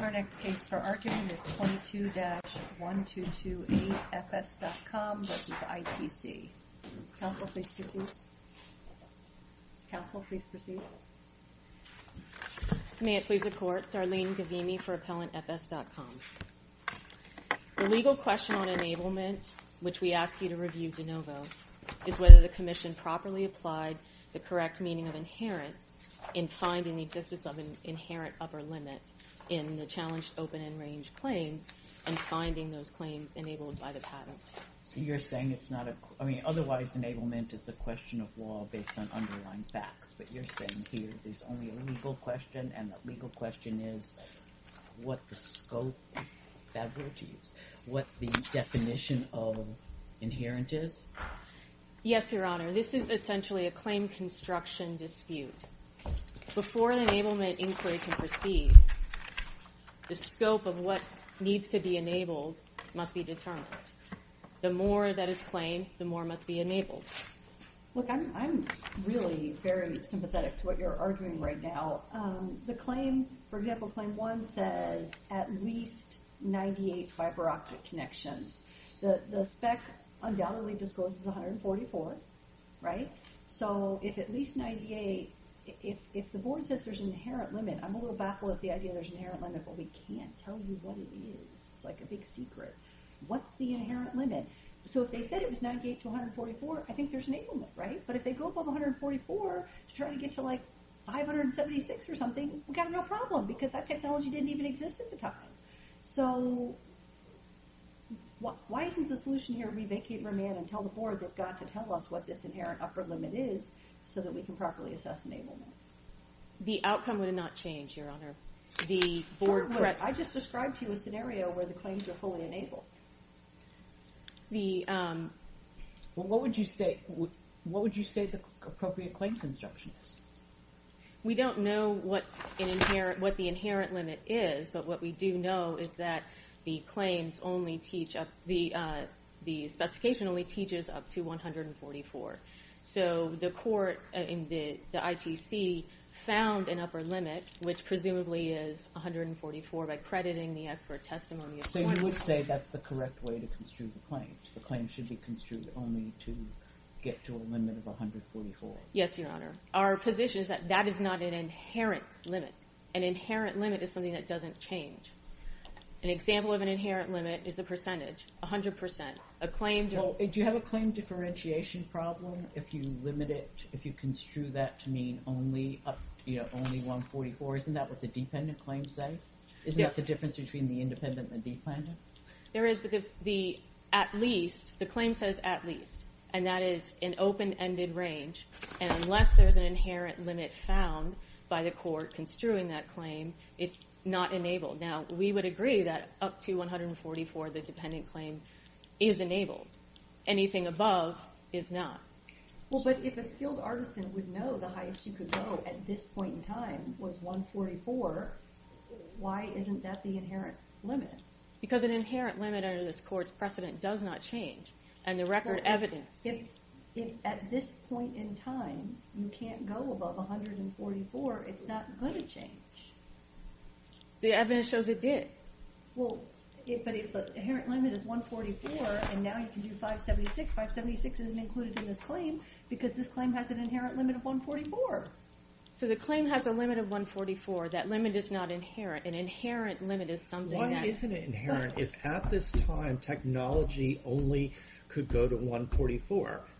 Our next case for argument is 22-1228 FS.com v. ITC. Counsel, please proceed. Counsel, please proceed. May it please the Court, Darlene Gavini for Appellant FS.com. The legal question on enablement, which we ask you to review de novo, is whether the Commission properly applied the correct meaning of inherent in finding the existence of an inherent upper limit in the challenged open and range claims and finding those claims enabled by the patent. So you're saying it's not a – I mean, otherwise enablement is a question of law based on underlying facts, but you're saying here there's only a legal question and the legal question is what the scope – bad word to use – what the definition of inherent is? Yes, Your Honor, this is essentially a claim construction dispute. Before an enablement inquiry can proceed, the scope of what needs to be enabled must be determined. The more that is claimed, the more must be enabled. Look, I'm really very sympathetic to what you're arguing right now. The claim – for example, Claim 1 says at least 98 fiber optic connections. The spec undoubtedly discloses 144, right? So if at least 98 – if the board says there's an inherent limit, I'm a little baffled at the idea there's an inherent limit, but we can't tell you what it is. It's like a big secret. What's the inherent limit? So if they said it was 98 to 144, I think there's enablement, right? But if they go above 144 to try to get to like 576 or something, we've got a real problem because that technology didn't even exist at the time. So why isn't the solution here to re-vacate Romand and tell the board they've got to tell us what this inherent upper limit is so that we can properly assess enablement? The outcome would not change, Your Honor. The board – I just described to you a scenario where the claims are fully enabled. The – Well, what would you say the appropriate claim construction is? We don't know what the inherent limit is, but what we do know is that the claims only teach up – the specification only teaches up to 144. So the court in the ITC found an upper limit, which presumably is 144 by crediting the expert testimony. So you would say that's the correct way to construe the claims? The claims should be construed only to get to a limit of 144? Yes, Your Honor. Our position is that that is not an inherent limit. An inherent limit is something that doesn't change. An example of an inherent limit is a percentage, 100%. A claim – Do you have a claim differentiation problem if you limit it, if you construe that to mean only 144? Isn't that what the dependent claims say? Isn't that the difference between the independent and the dependent? There is, but the at least – the claim says at least, and that is in open-ended range, and unless there's an inherent limit found by the court construing that claim, it's not enabled. Now, we would agree that up to 144, the dependent claim is enabled. Anything above is not. Well, but if a skilled artisan would know the highest you could go at this point in time was 144, why isn't that the inherent limit? Because an inherent limit under this court's precedent does not change, and the record evidence – If at this point in time you can't go above 144, it's not going to change. The evidence shows it did. Well, but if the inherent limit is 144, and now you can do 576, 576 isn't included in this claim because this claim has an inherent limit of 144. So the claim has a limit of 144. That limit is not inherent. An inherent limit is something that –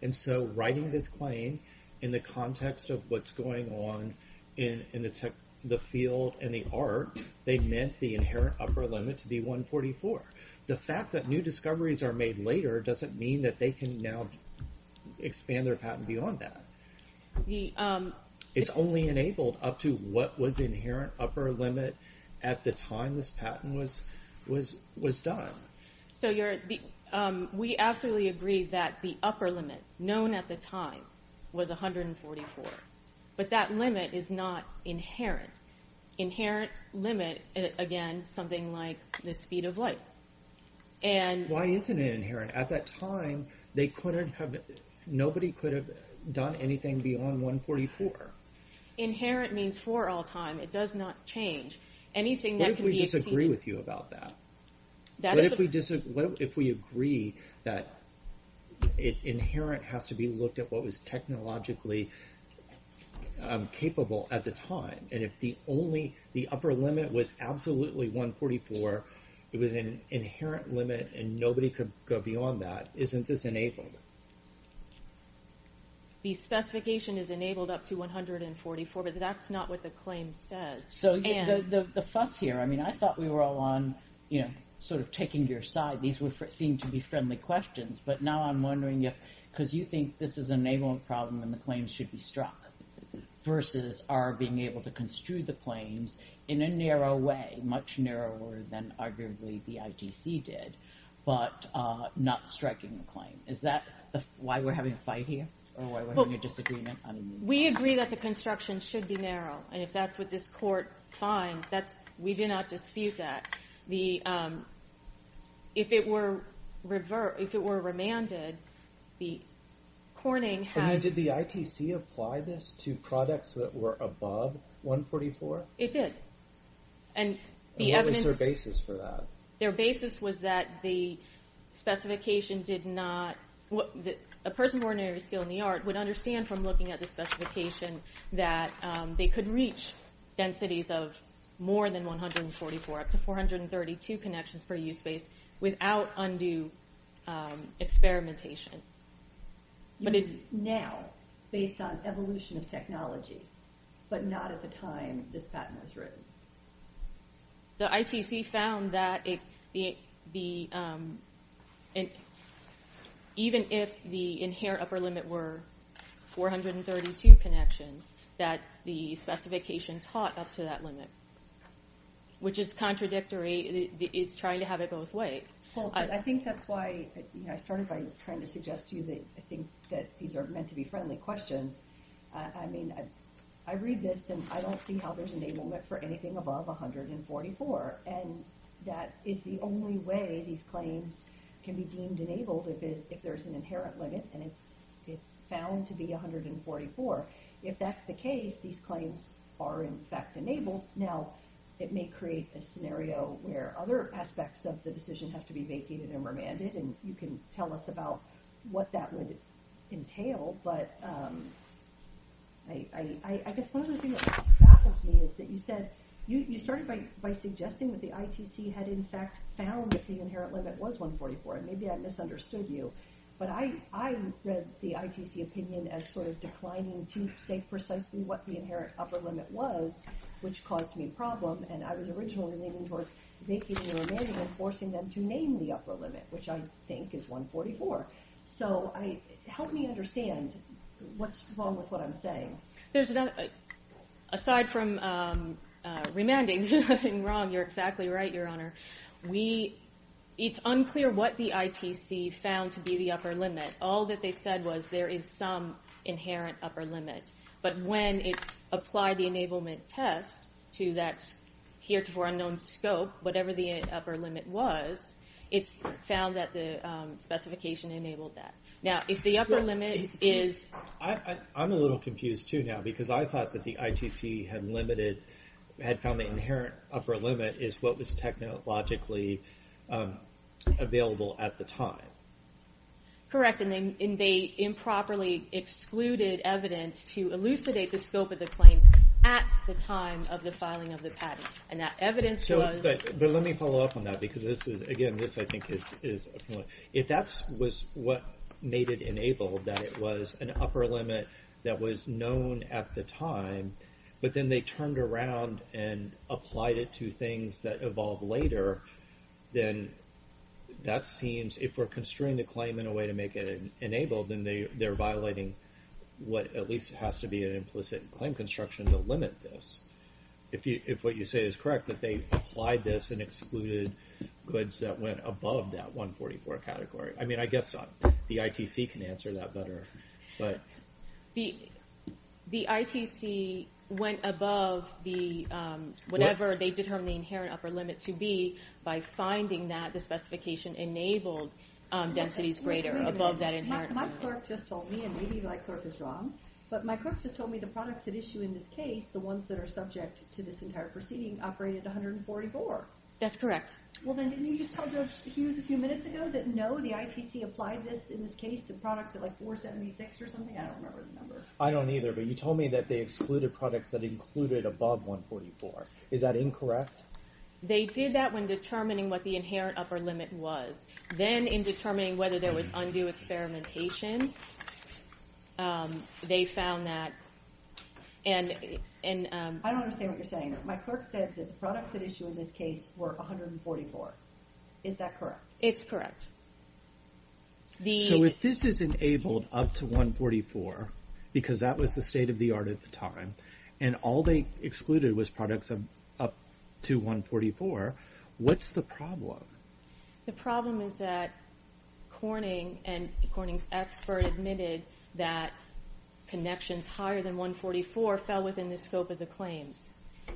And so writing this claim in the context of what's going on in the field and the art, they meant the inherent upper limit to be 144. The fact that new discoveries are made later doesn't mean that they can now expand their patent beyond that. It's only enabled up to what was the inherent upper limit at the time this patent was done. So we absolutely agree that the upper limit known at the time was 144, but that limit is not inherent. Inherent limit, again, something like the speed of light. Why isn't it inherent? At that time, nobody could have done anything beyond 144. Inherent means for all time. It does not change. Anything that can be – What if we disagree with you about that? What if we agree that inherent has to be looked at what was technologically capable at the time, and if the upper limit was absolutely 144, it was an inherent limit, and nobody could go beyond that, isn't this enabled? The specification is enabled up to 144, but that's not what the claim says. The fuss here, I mean, I thought we were all on sort of taking your side. These seem to be friendly questions, but now I'm wondering if – because you think this is an enablement problem and the claims should be struck versus our being able to construe the claims in a narrow way, much narrower than arguably the ITC did, but not striking the claim. Is that why we're having a fight here or why we're having a disagreement? We agree that the construction should be narrow, and if that's what this court finds, we do not dispute that. If it were remanded, the Corning has – And then did the ITC apply this to products that were above 144? It did. And what was their basis for that? Their basis was that the specification did not – a person of ordinary skill in the art would understand from looking at the specification that they could reach densities of more than 144, up to 432 connections per use space, without undue experimentation. Now, based on evolution of technology, but not at the time this patent was written. The ITC found that even if the inherent upper limit were 432 connections, that the specification caught up to that limit, which is contradictory. It's trying to have it both ways. I think that's why I started by trying to suggest to you that I think that these are meant to be friendly questions. I mean, I read this, and I don't see how there's enablement for anything above 144. And that is the only way these claims can be deemed enabled, if there's an inherent limit, and it's found to be 144. If that's the case, these claims are in fact enabled. Now, it may create a scenario where other aspects of the decision have to be vacated and remanded, and you can tell us about what that would entail. But I guess one of the things that baffles me is that you said – you started by suggesting that the ITC had in fact found that the inherent limit was 144. Maybe I misunderstood you, but I read the ITC opinion as sort of declining to say precisely what the inherent upper limit was, which caused me a problem, and I was originally leaning towards vacating or remanding and forcing them to name the upper limit, which I think is 144. So help me understand what's wrong with what I'm saying. There's another – aside from remanding, there's nothing wrong. You're exactly right, Your Honor. It's unclear what the ITC found to be the upper limit. All that they said was there is some inherent upper limit. But when it applied the enablement test to that heretofore unknown scope, whatever the upper limit was, it found that the specification enabled that. Now, if the upper limit is – I'm a little confused too now because I thought that the ITC had limited – what was technologically available at the time. Correct, and they improperly excluded evidence to elucidate the scope of the claims at the time of the filing of the patent, and that evidence was – But let me follow up on that because this is – again, this I think is – if that was what made it enabled, that it was an upper limit that was known at the time, but then they turned around and applied it to things that evolved later, then that seems – if we're constraining the claim in a way to make it enabled, then they're violating what at least has to be an implicit claim construction to limit this. If what you say is correct, that they applied this and excluded goods that went above that 144 category. I mean, I guess the ITC can answer that better, but – The ITC went above the – whenever they determined the inherent upper limit to be by finding that the specification enabled densities greater above that inherent – My clerk just told me, and maybe my clerk is wrong, but my clerk just told me the products at issue in this case, the ones that are subject to this entire proceeding, operated 144. That's correct. Well, then didn't you just tell Judge Hughes a few minutes ago that no, the ITC applied this, in this case, to products at like 476 or something? I don't remember the number. I don't either, but you told me that they excluded products that included above 144. Is that incorrect? They did that when determining what the inherent upper limit was. Then in determining whether there was undue experimentation, they found that – I don't understand what you're saying. My clerk said that the products at issue in this case were 144. Is that correct? It's correct. So if this is enabled up to 144 because that was the state of the art at the time and all they excluded was products up to 144, what's the problem? The problem is that Corning and Corning's expert admitted that connections higher than 144 fell within the scope of the claims.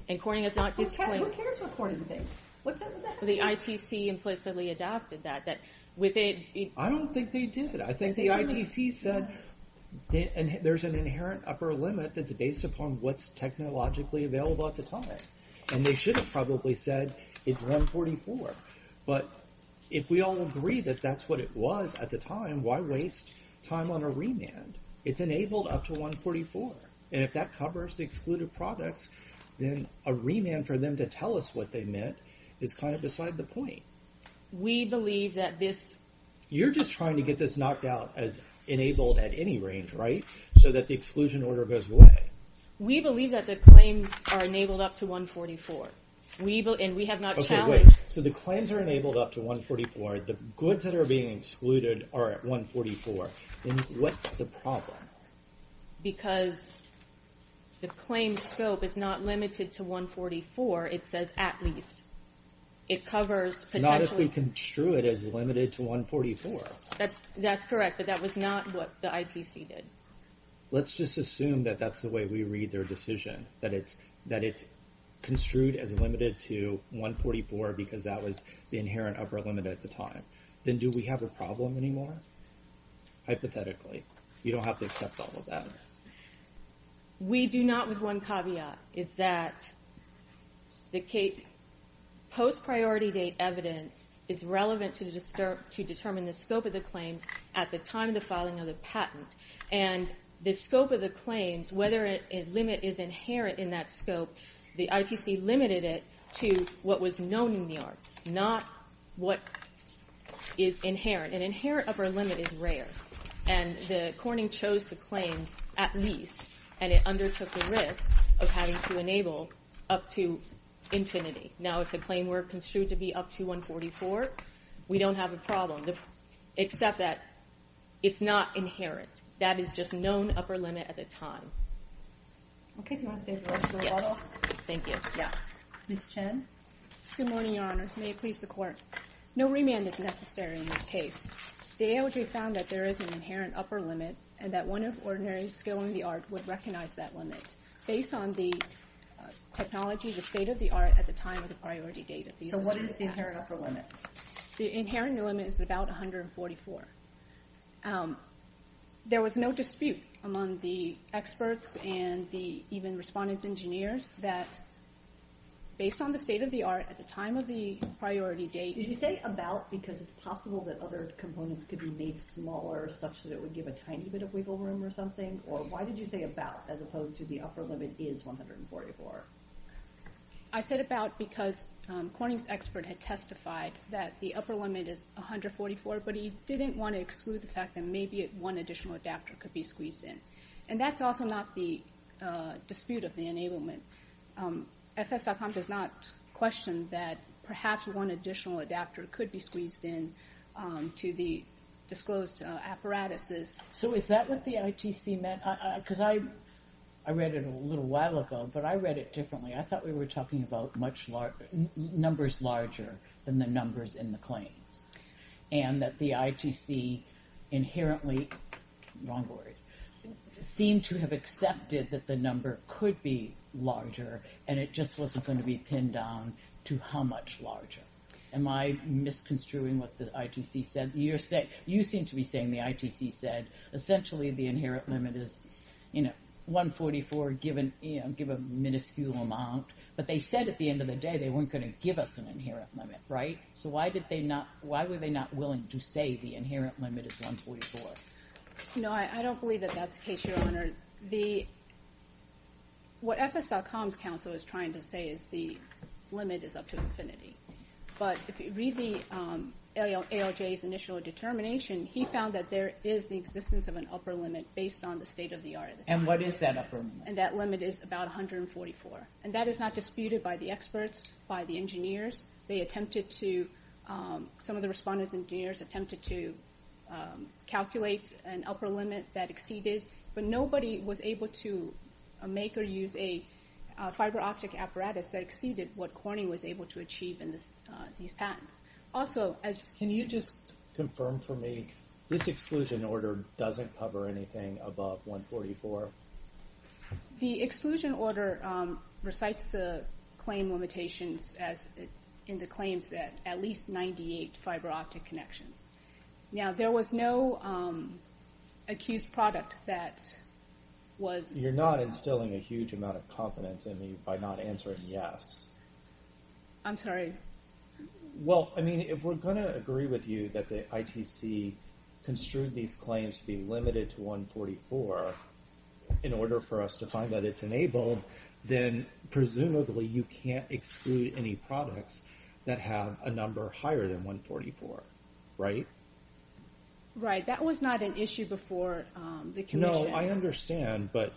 And Corning has not – Who cares what Corning thinks? What's up with that? The ITC implicitly adapted that. I don't think they did. I think the ITC said there's an inherent upper limit that's based upon what's technologically available at the time. And they should have probably said it's 144. But if we all agree that that's what it was at the time, why waste time on a remand? It's enabled up to 144. And if that covers the excluded products, then a remand for them to tell us what they meant is kind of beside the point. We believe that this – You're just trying to get this knocked out as enabled at any range, right, so that the exclusion order goes away. We believe that the claims are enabled up to 144. And we have not challenged – Okay, wait. So the claims are enabled up to 144. The goods that are being excluded are at 144. Then what's the problem? Because the claims scope is not limited to 144. It says at least. It covers potentially – Not if we construe it as limited to 144. That's correct, but that was not what the ITC did. Let's just assume that that's the way we read their decision, that it's construed as limited to 144 because that was the inherent upper limit at the time. Then do we have a problem anymore, hypothetically? You don't have to accept all of that. We do not with one caveat, is that the post-priority date evidence is relevant to determine the scope of the claims at the time of the filing of the patent. And the scope of the claims, whether a limit is inherent in that scope, the ITC limited it to what was known in the arts, not what is inherent. An inherent upper limit is rare. And the corning chose to claim at least, and it undertook the risk of having to enable up to infinity. Now, if the claim were construed to be up to 144, we don't have a problem, except that it's not inherent. That is just known upper limit at the time. Okay. Do you want to say the rest of the rebuttal? Yes. Thank you. Ms. Chen? Good morning, Your Honors. May it please the Court. No remand is necessary in this case. The AOJ found that there is an inherent upper limit and that one of ordinary skill in the art would recognize that limit based on the technology, the state of the art, at the time of the priority date. So what is the inherent upper limit? The inherent limit is about 144. There was no dispute among the experts and the even respondents, engineers, that based on the state of the art at the time of the priority date. Did you say about because it's possible that other components could be made smaller such that it would give a tiny bit of wiggle room or something? Or why did you say about as opposed to the upper limit is 144? I said about because Corning's expert had testified that the upper limit is 144, but he didn't want to exclude the fact that maybe one additional adapter could be squeezed in. And that's also not the dispute of the enablement. FS.com does not question that perhaps one additional adapter could be squeezed in to the disclosed apparatuses. So is that what the ITC meant? Because I read it a little while ago, but I read it differently. I thought we were talking about numbers larger than the numbers in the claims and that the ITC inherently, wrong word, seemed to have accepted that the number could be larger and it just wasn't going to be pinned down to how much larger. Am I misconstruing what the ITC said? You seem to be saying the ITC said essentially the inherent limit is 144, give a minuscule amount, but they said at the end of the day they weren't going to give us an inherent limit, right? So why were they not willing to say the inherent limit is 144? No, I don't believe that that's the case, Your Honor. What FS.com's counsel is trying to say is the limit is up to infinity. But if you read the ALJ's initial determination, he found that there is the existence of an upper limit based on the state of the art. And what is that upper limit? And that limit is about 144. And that is not disputed by the experts, by the engineers. They attempted to, some of the respondents and engineers attempted to calculate an upper limit that exceeded, but nobody was able to make or use a fiber optic apparatus that exceeded what Corning was able to achieve in these patents. Also, as... Can you just confirm for me this exclusion order doesn't cover anything above 144? The exclusion order recites the claim limitations in the claims that at least 98 fiber optic connections. Now, there was no accused product that was... You're not instilling a huge amount of confidence in me by not answering yes. I'm sorry. Well, I mean, if we're going to agree with you that the ITC construed these claims to be limited to 144 in order for us to find that it's enabled, then presumably you can't exclude any products that have a number higher than 144, right? Right. That was not an issue before the commission. No, I understand, but,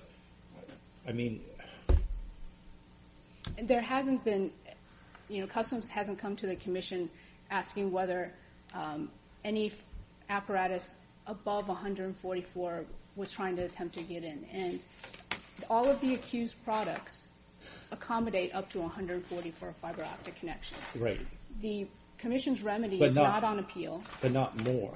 I mean... There hasn't been... Customs hasn't come to the commission asking whether any apparatus above 144 was trying to attempt to get in. And all of the accused products accommodate up to 144 fiber optic connections. Right. The commission's remedy is not on appeal. But not more.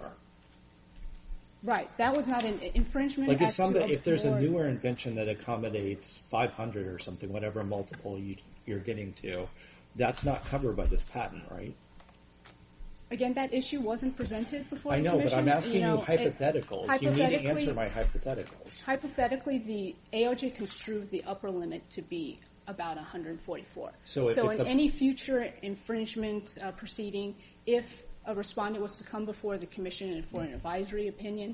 Right. That was not an infringement... If there's a newer invention that accommodates 500 or something, whatever multiple you're getting to, that's not covered by this patent, right? Again, that issue wasn't presented before the commission. I know, but I'm asking you hypotheticals. You need to answer my hypotheticals. Hypothetically, the ALJ construed the upper limit to be about 144. So in any future infringement proceeding, if a respondent was to come before the commission for an advisory opinion,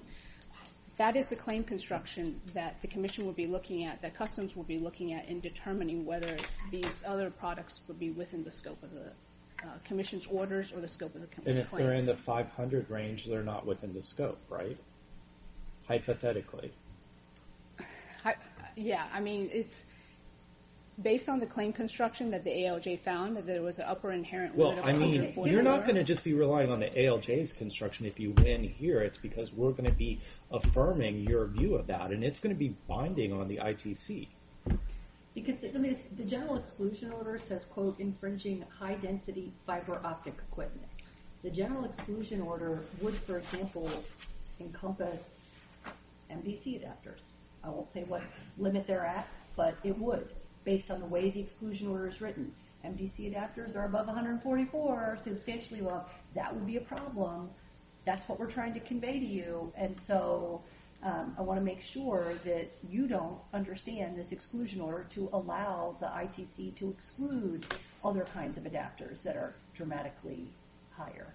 that is the claim construction that the commission will be looking at, that customs will be looking at in determining whether these other products would be within the scope of the commission's orders or the scope of the commission's claims. And if they're in the 500 range, they're not within the scope, right? Hypothetically. Yeah, I mean, it's based on the claim construction that the ALJ found, that there was an upper inherent limit of 144. Well, I mean, you're not going to just be relying on the ALJ's construction if you win here. It's because we're going to be affirming your view of that, and it's going to be binding on the ITC. Because the general exclusion order says, quote, infringing high-density fiber optic equipment. The general exclusion order would, for example, encompass MDC adapters. I won't say what limit they're at, but it would, based on the way the exclusion order is written. MDC adapters are above 144 substantially. Well, that would be a problem. That's what we're trying to convey to you. And so I want to make sure that you don't understand this exclusion order to allow the ITC to exclude other kinds of adapters that are dramatically higher.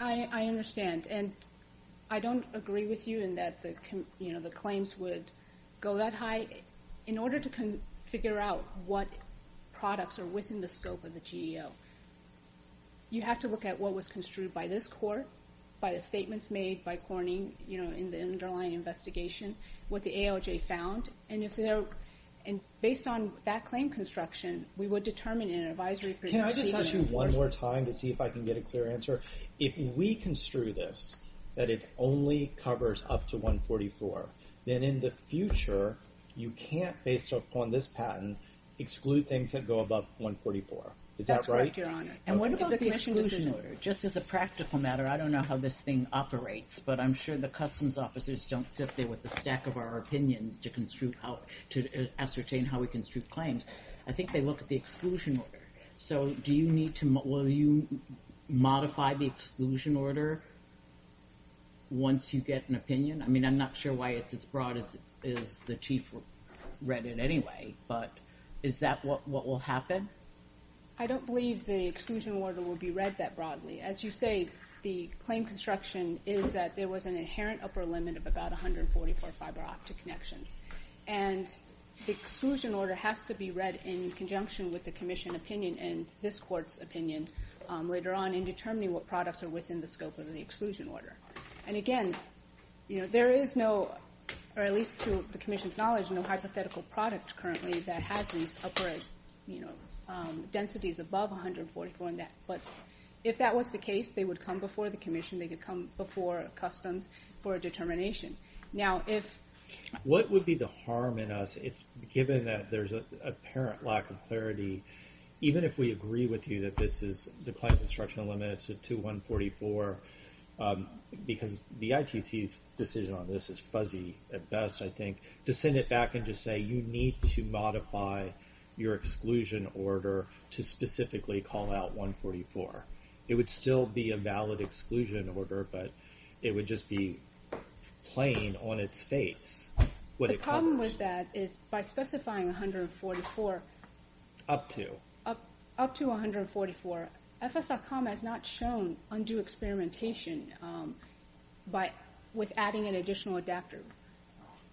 I understand. And I don't agree with you in that the claims would go that high. In order to figure out what products are within the scope of the GEO, you have to look at what was construed by this court, by the statements made by Corning in the underlying investigation, what the ALJ found. And based on that claim construction, we would determine in an advisory procedure. Can I just ask you one more time to see if I can get a clear answer? If we construe this, that it only covers up to 144, then in the future you can't, based upon this patent, exclude things that go above 144. Is that right? That's right, Your Honor. And what about the exclusion order? Just as a practical matter, I don't know how this thing operates, but I'm sure the customs officers don't sit there with a stack of our opinions to ascertain how we construe claims. I think they look at the exclusion order. So will you modify the exclusion order once you get an opinion? I mean, I'm not sure why it's as broad as the Chief read it anyway, but is that what will happen? I don't believe the exclusion order will be read that broadly. As you say, the claim construction is that there was an inherent upper limit of about 144 fiber optic connections. And the exclusion order has to be read in conjunction with the commission opinion and this court's opinion later on in determining what products are within the scope of the exclusion order. And, again, there is no, or at least to the commission's knowledge, no hypothetical product currently that has these upper densities above 144. But if that was the case, they would come before the commission, they could come before customs for a determination. What would be the harm in us, given that there's an apparent lack of clarity, even if we agree with you that this is the claim construction limits to 144, because the ITC's decision on this is fuzzy at best, I think, to send it back and just say, you need to modify your exclusion order to specifically call out 144. It would still be a valid exclusion order, but it would just be plain on its face what it calls. The problem with that is by specifying 144... Up to. Up to 144, FS.com has not shown undue experimentation with adding an additional adapter.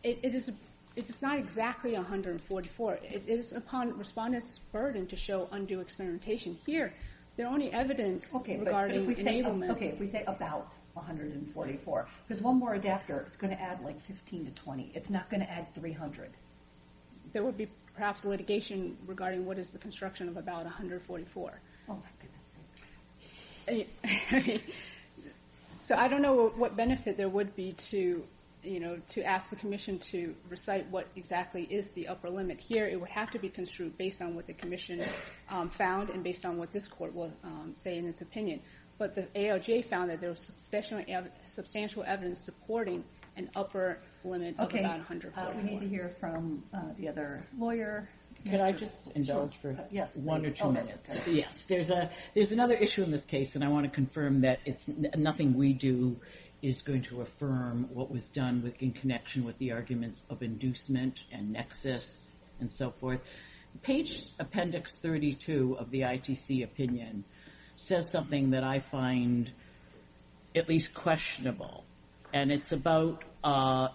It's not exactly 144. It is upon respondents' burden to show undue experimentation. Here, there are only evidence regarding enablement. Okay, if we say about 144, because one more adapter is going to add 15 to 20. It's not going to add 300. There would be perhaps litigation regarding what is the construction of about 144. Oh, my goodness. So I don't know what benefit there would be to ask the commission to recite what exactly is the upper limit. Here, it would have to be construed based on what the commission found and based on what this court will say in its opinion. But the ALJ found that there was substantial evidence supporting an upper limit of about 144. Okay, we need to hear from the other lawyer. Can I just indulge for one or two minutes? Yes, there's another issue in this case, and I want to confirm that nothing we do is going to affirm what was done in connection with the arguments of inducement and nexus and so forth. Page Appendix 32 of the ITC opinion says something that I find at least questionable, and it's about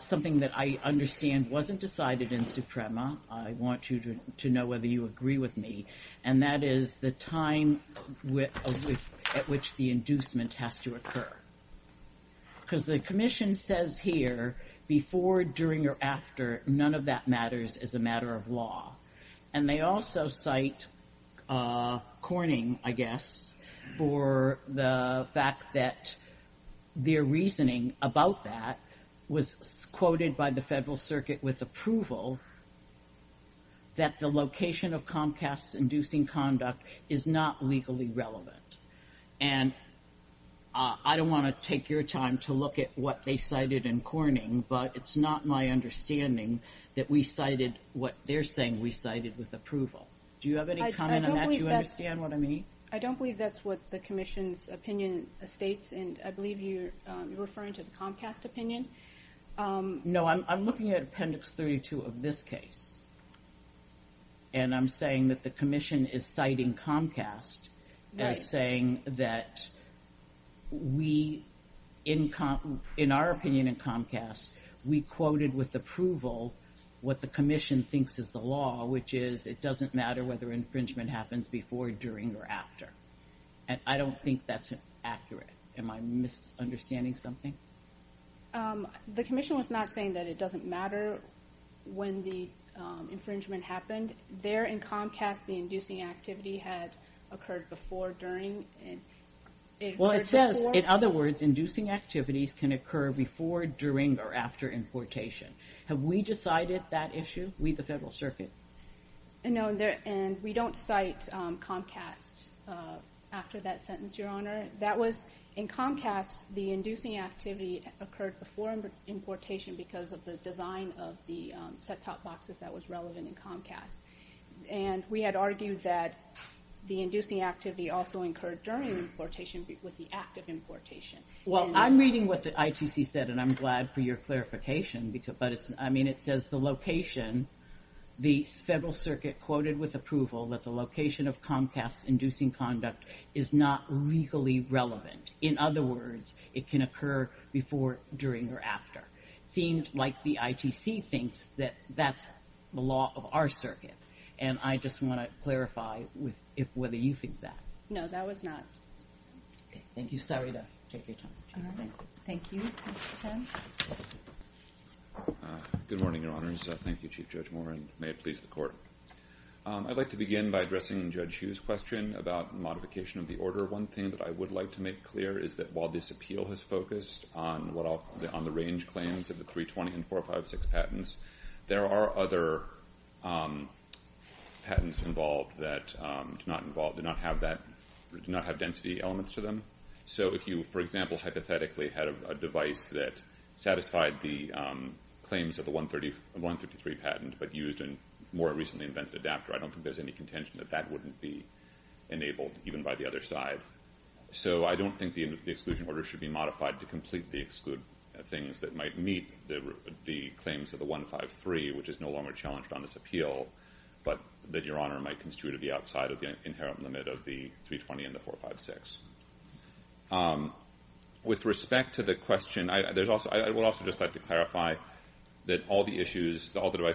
something that I understand wasn't decided in Suprema. I want you to know whether you agree with me, and that is the time at which the inducement has to occur. Because the commission says here, before, during, or after, none of that matters as a matter of law. And they also cite Corning, I guess, for the fact that their reasoning about that was quoted by the Federal Circuit with approval that the location of Comcast's inducing conduct is not legally relevant. And I don't want to take your time to look at what they cited in Corning, but it's not my understanding that we cited what they're saying we cited with approval. Do you have any comment on that? Do you understand what I mean? I don't believe that's what the commission's opinion states, and I believe you're referring to the Comcast opinion. No, I'm looking at Appendix 32 of this case, and I'm saying that the commission is citing Comcast as saying that we, in our opinion in Comcast, we quoted with approval what the commission thinks is the law, which is it doesn't matter whether infringement happens before, during, or after. And I don't think that's accurate. Am I misunderstanding something? The commission was not saying that it doesn't matter when the infringement happened. And there in Comcast, the inducing activity had occurred before, during, and it occurred before. Well, it says, in other words, inducing activities can occur before, during, or after importation. Have we decided that issue? We, the Federal Circuit? No, and we don't cite Comcast after that sentence, Your Honor. That was in Comcast, the inducing activity occurred before importation because of the design of the set-top boxes that was relevant in Comcast. And we had argued that the inducing activity also occurred during importation with the act of importation. Well, I'm reading what the ITC said, and I'm glad for your clarification. I mean, it says the location, the Federal Circuit quoted with approval that the location of Comcast's inducing conduct is not legally relevant. In other words, it can occur before, during, or after. It seems like the ITC thinks that that's the law of our circuit, and I just want to clarify whether you think that. No, that was not. Okay, thank you. Sorry to take your time. All right, thank you. Mr. Chen? Good morning, Your Honors. Thank you, Chief Judge Moore, and may it please the Court. I'd like to begin by addressing Judge Hugh's question about modification of the order. One thing that I would like to make clear is that while this appeal has focused on the range claims of the 320 and 456 patents, there are other patents involved that do not have density elements to them. So if you, for example, hypothetically had a device that satisfied the claims of the 133 patent but used a more recently invented adapter, I don't think there's any contention that that wouldn't be enabled, even by the other side. So I don't think the exclusion order should be modified to completely exclude things that might meet the claims of the 153, which is no longer challenged on this appeal, but that Your Honor might construe to be outside of the inherent limit of the 320 and the 456. With respect to the question, I would also just like to clarify that all the devices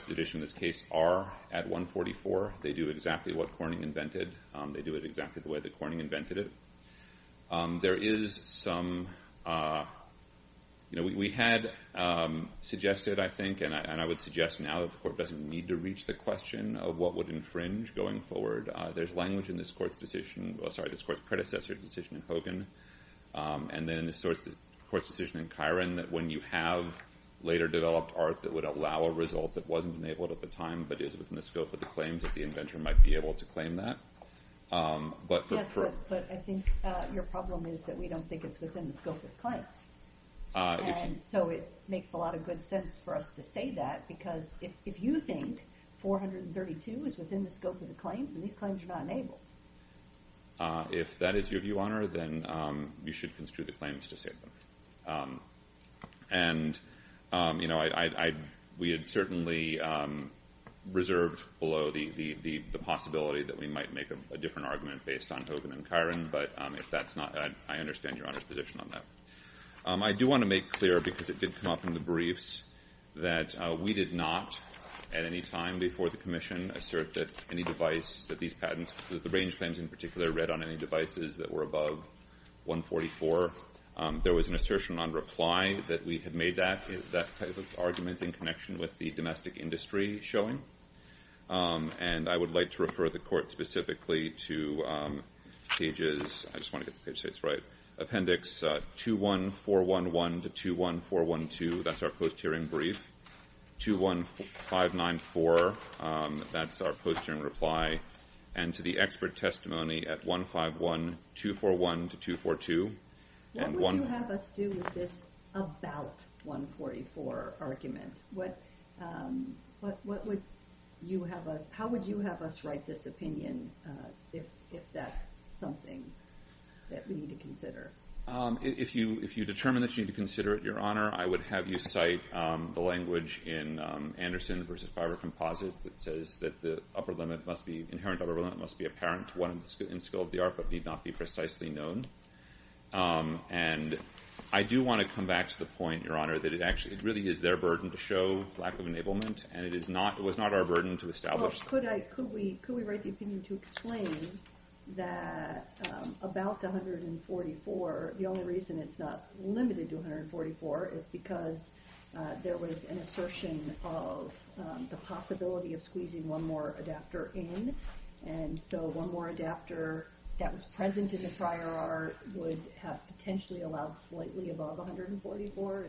at issue in this case are at 144. They do exactly what Corning invented. They do it exactly the way that Corning invented it. There is some, you know, we had suggested, I think, and I would suggest now that the Court doesn't need to reach the question of what would infringe going forward. There's language in this Court's decision, sorry this Court's predecessor decision in Hogan, and then this Court's decision in Kiron that when you have later developed art that would allow a result that wasn't enabled at the time but is within the scope of the claims that the inventor might be able to claim that. Yes, but I think your problem is that we don't think it's within the scope of the claims. And so it makes a lot of good sense for us to say that because if you think 432 is within the scope of the claims, then these claims are not enabled. If that is your view, Your Honor, then you should construe the claims to say that. And, you know, we had certainly reserved below the possibility that we might make a different argument based on Hogan and Kiron. But if that's not, I understand Your Honor's position on that. I do want to make clear, because it did come up in the briefs, that we did not at any time before the Commission assert that any device that these patents, that the range claims in particular, read on any devices that were above 144. There was an assertion on reply that we had made that type of argument in connection with the domestic industry showing. And I would like to refer the Court specifically to pages 21411 to 21412. That's our post-hearing brief. 21594, that's our post-hearing reply. And to the expert testimony at 151241 to 242. What would you have us do with this about 144 argument? What would you have us, how would you have us write this opinion if that's something that we need to consider? If you determine that you need to consider it, Your Honor, I would have you cite the language in Anderson v. Fiber Composites that says that the upper limit must be, inherent upper limit must be apparent to one in skill of the art, but need not be precisely known. And I do want to come back to the point, Your Honor, that it actually, it really is their burden to show lack of enablement, and it is not, it was not our burden to establish. Well, could I, could we write the opinion to explain that about 144, the only reason it's not limited to 144 is because there was an assertion of the possibility of squeezing one more adapter in, and so one more adapter that was present in the prior art would have potentially allowed slightly above 144?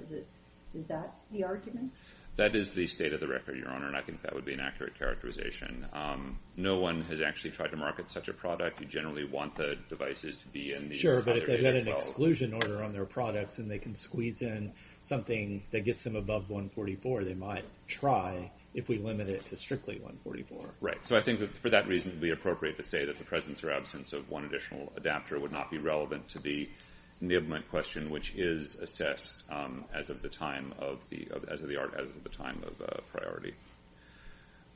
Is that the argument? That is the state of the record, Your Honor, and I think that would be an accurate characterization. No one has actually tried to market such a product. You generally want the devices to be in these other data codes. Sure, but if they've got an exclusion order on their products and they can squeeze in something that gets them above 144, they might try if we limit it to strictly 144. Right, so I think that for that reason it would be appropriate to say that the presence or absence of one additional adapter would not be relevant to the enablement question, which is assessed as of the time of the, as of the art, as of the time of priority.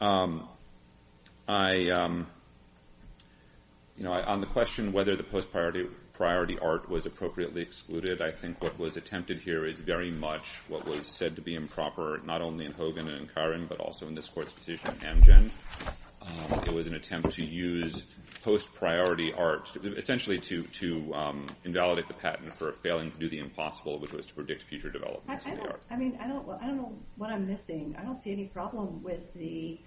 I, you know, on the question whether the post-priority art was appropriately excluded, I think what was attempted here is very much what was said to be improper, not only in Hogan and in Curran, but also in this Court's decision in Amgen. It was an attempt to use post-priority art, essentially to invalidate the patent for failing to do the impossible, which was to predict future developments in the art. I mean, I don't know what I'm missing. I don't see any problem with the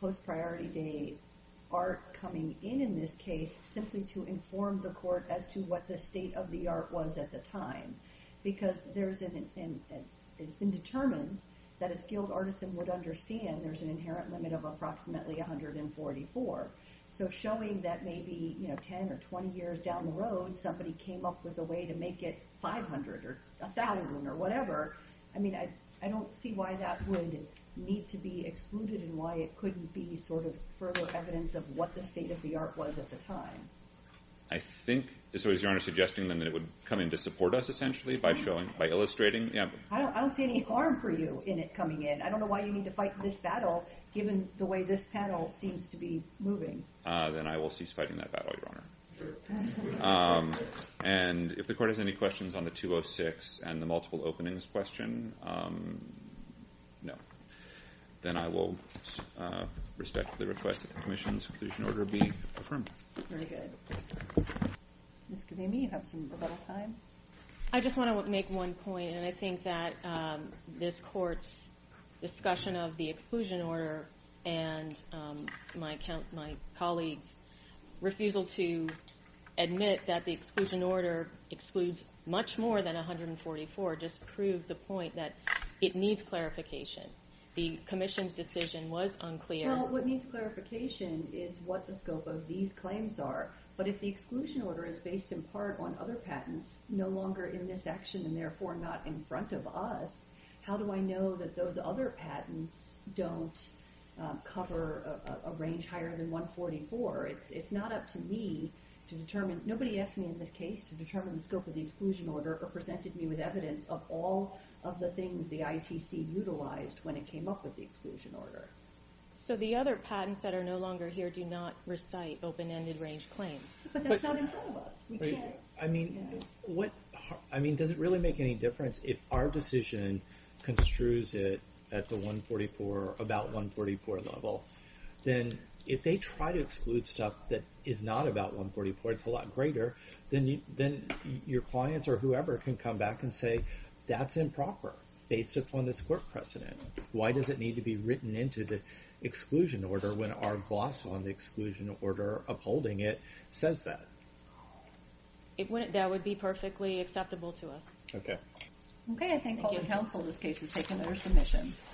post-priority day art coming in in this case simply to inform the Court as to what the state of the art was at the time, because there's an, it's been determined that a skilled artist would understand there's an inherent limit of approximately 144. So showing that maybe, you know, 10 or 20 years down the road, somebody came up with a way to make it 500 or 1,000 or whatever, I mean, I don't see why that would need to be excluded and why it couldn't be sort of further evidence of what the state of the art was at the time. I think, so is Your Honor suggesting then that it would come in to support us essentially by showing, by illustrating? I don't see any harm for you in it coming in. I don't know why you need to fight this battle, given the way this panel seems to be moving. Then I will cease fighting that battle, Your Honor. And if the Court has any questions on the 206 and the multiple openings question, no. Then I will respectfully request that the commission's conclusion order be affirmed. Very good. Ms. Gavini, you have a little time. I just want to make one point, and I think that this Court's discussion of the exclusion order and my colleagues' refusal to admit that the exclusion order excludes much more than 144 just proves the point that it needs clarification. The commission's decision was unclear. Well, what needs clarification is what the scope of these claims are. But if the exclusion order is based in part on other patents, no longer in this action and therefore not in front of us, how do I know that those other patents don't cover a range higher than 144? It's not up to me to determine. Nobody asked me in this case to determine the scope of the exclusion order or presented me with evidence of all of the things the ITC utilized when it came up with the exclusion order. So the other patents that are no longer here do not recite open-ended range claims. But that's not in front of us. I mean, does it really make any difference if our decision construes it at the 144, about 144 level? Then if they try to exclude stuff that is not about 144, it's a lot greater, then your clients or whoever can come back and say, that's improper based upon this Court precedent. Why does it need to be written into the exclusion order when our boss on the exclusion order upholding it says that? That would be perfectly acceptable to us. Okay. Okay, I think all the counsel in this case has taken their submission.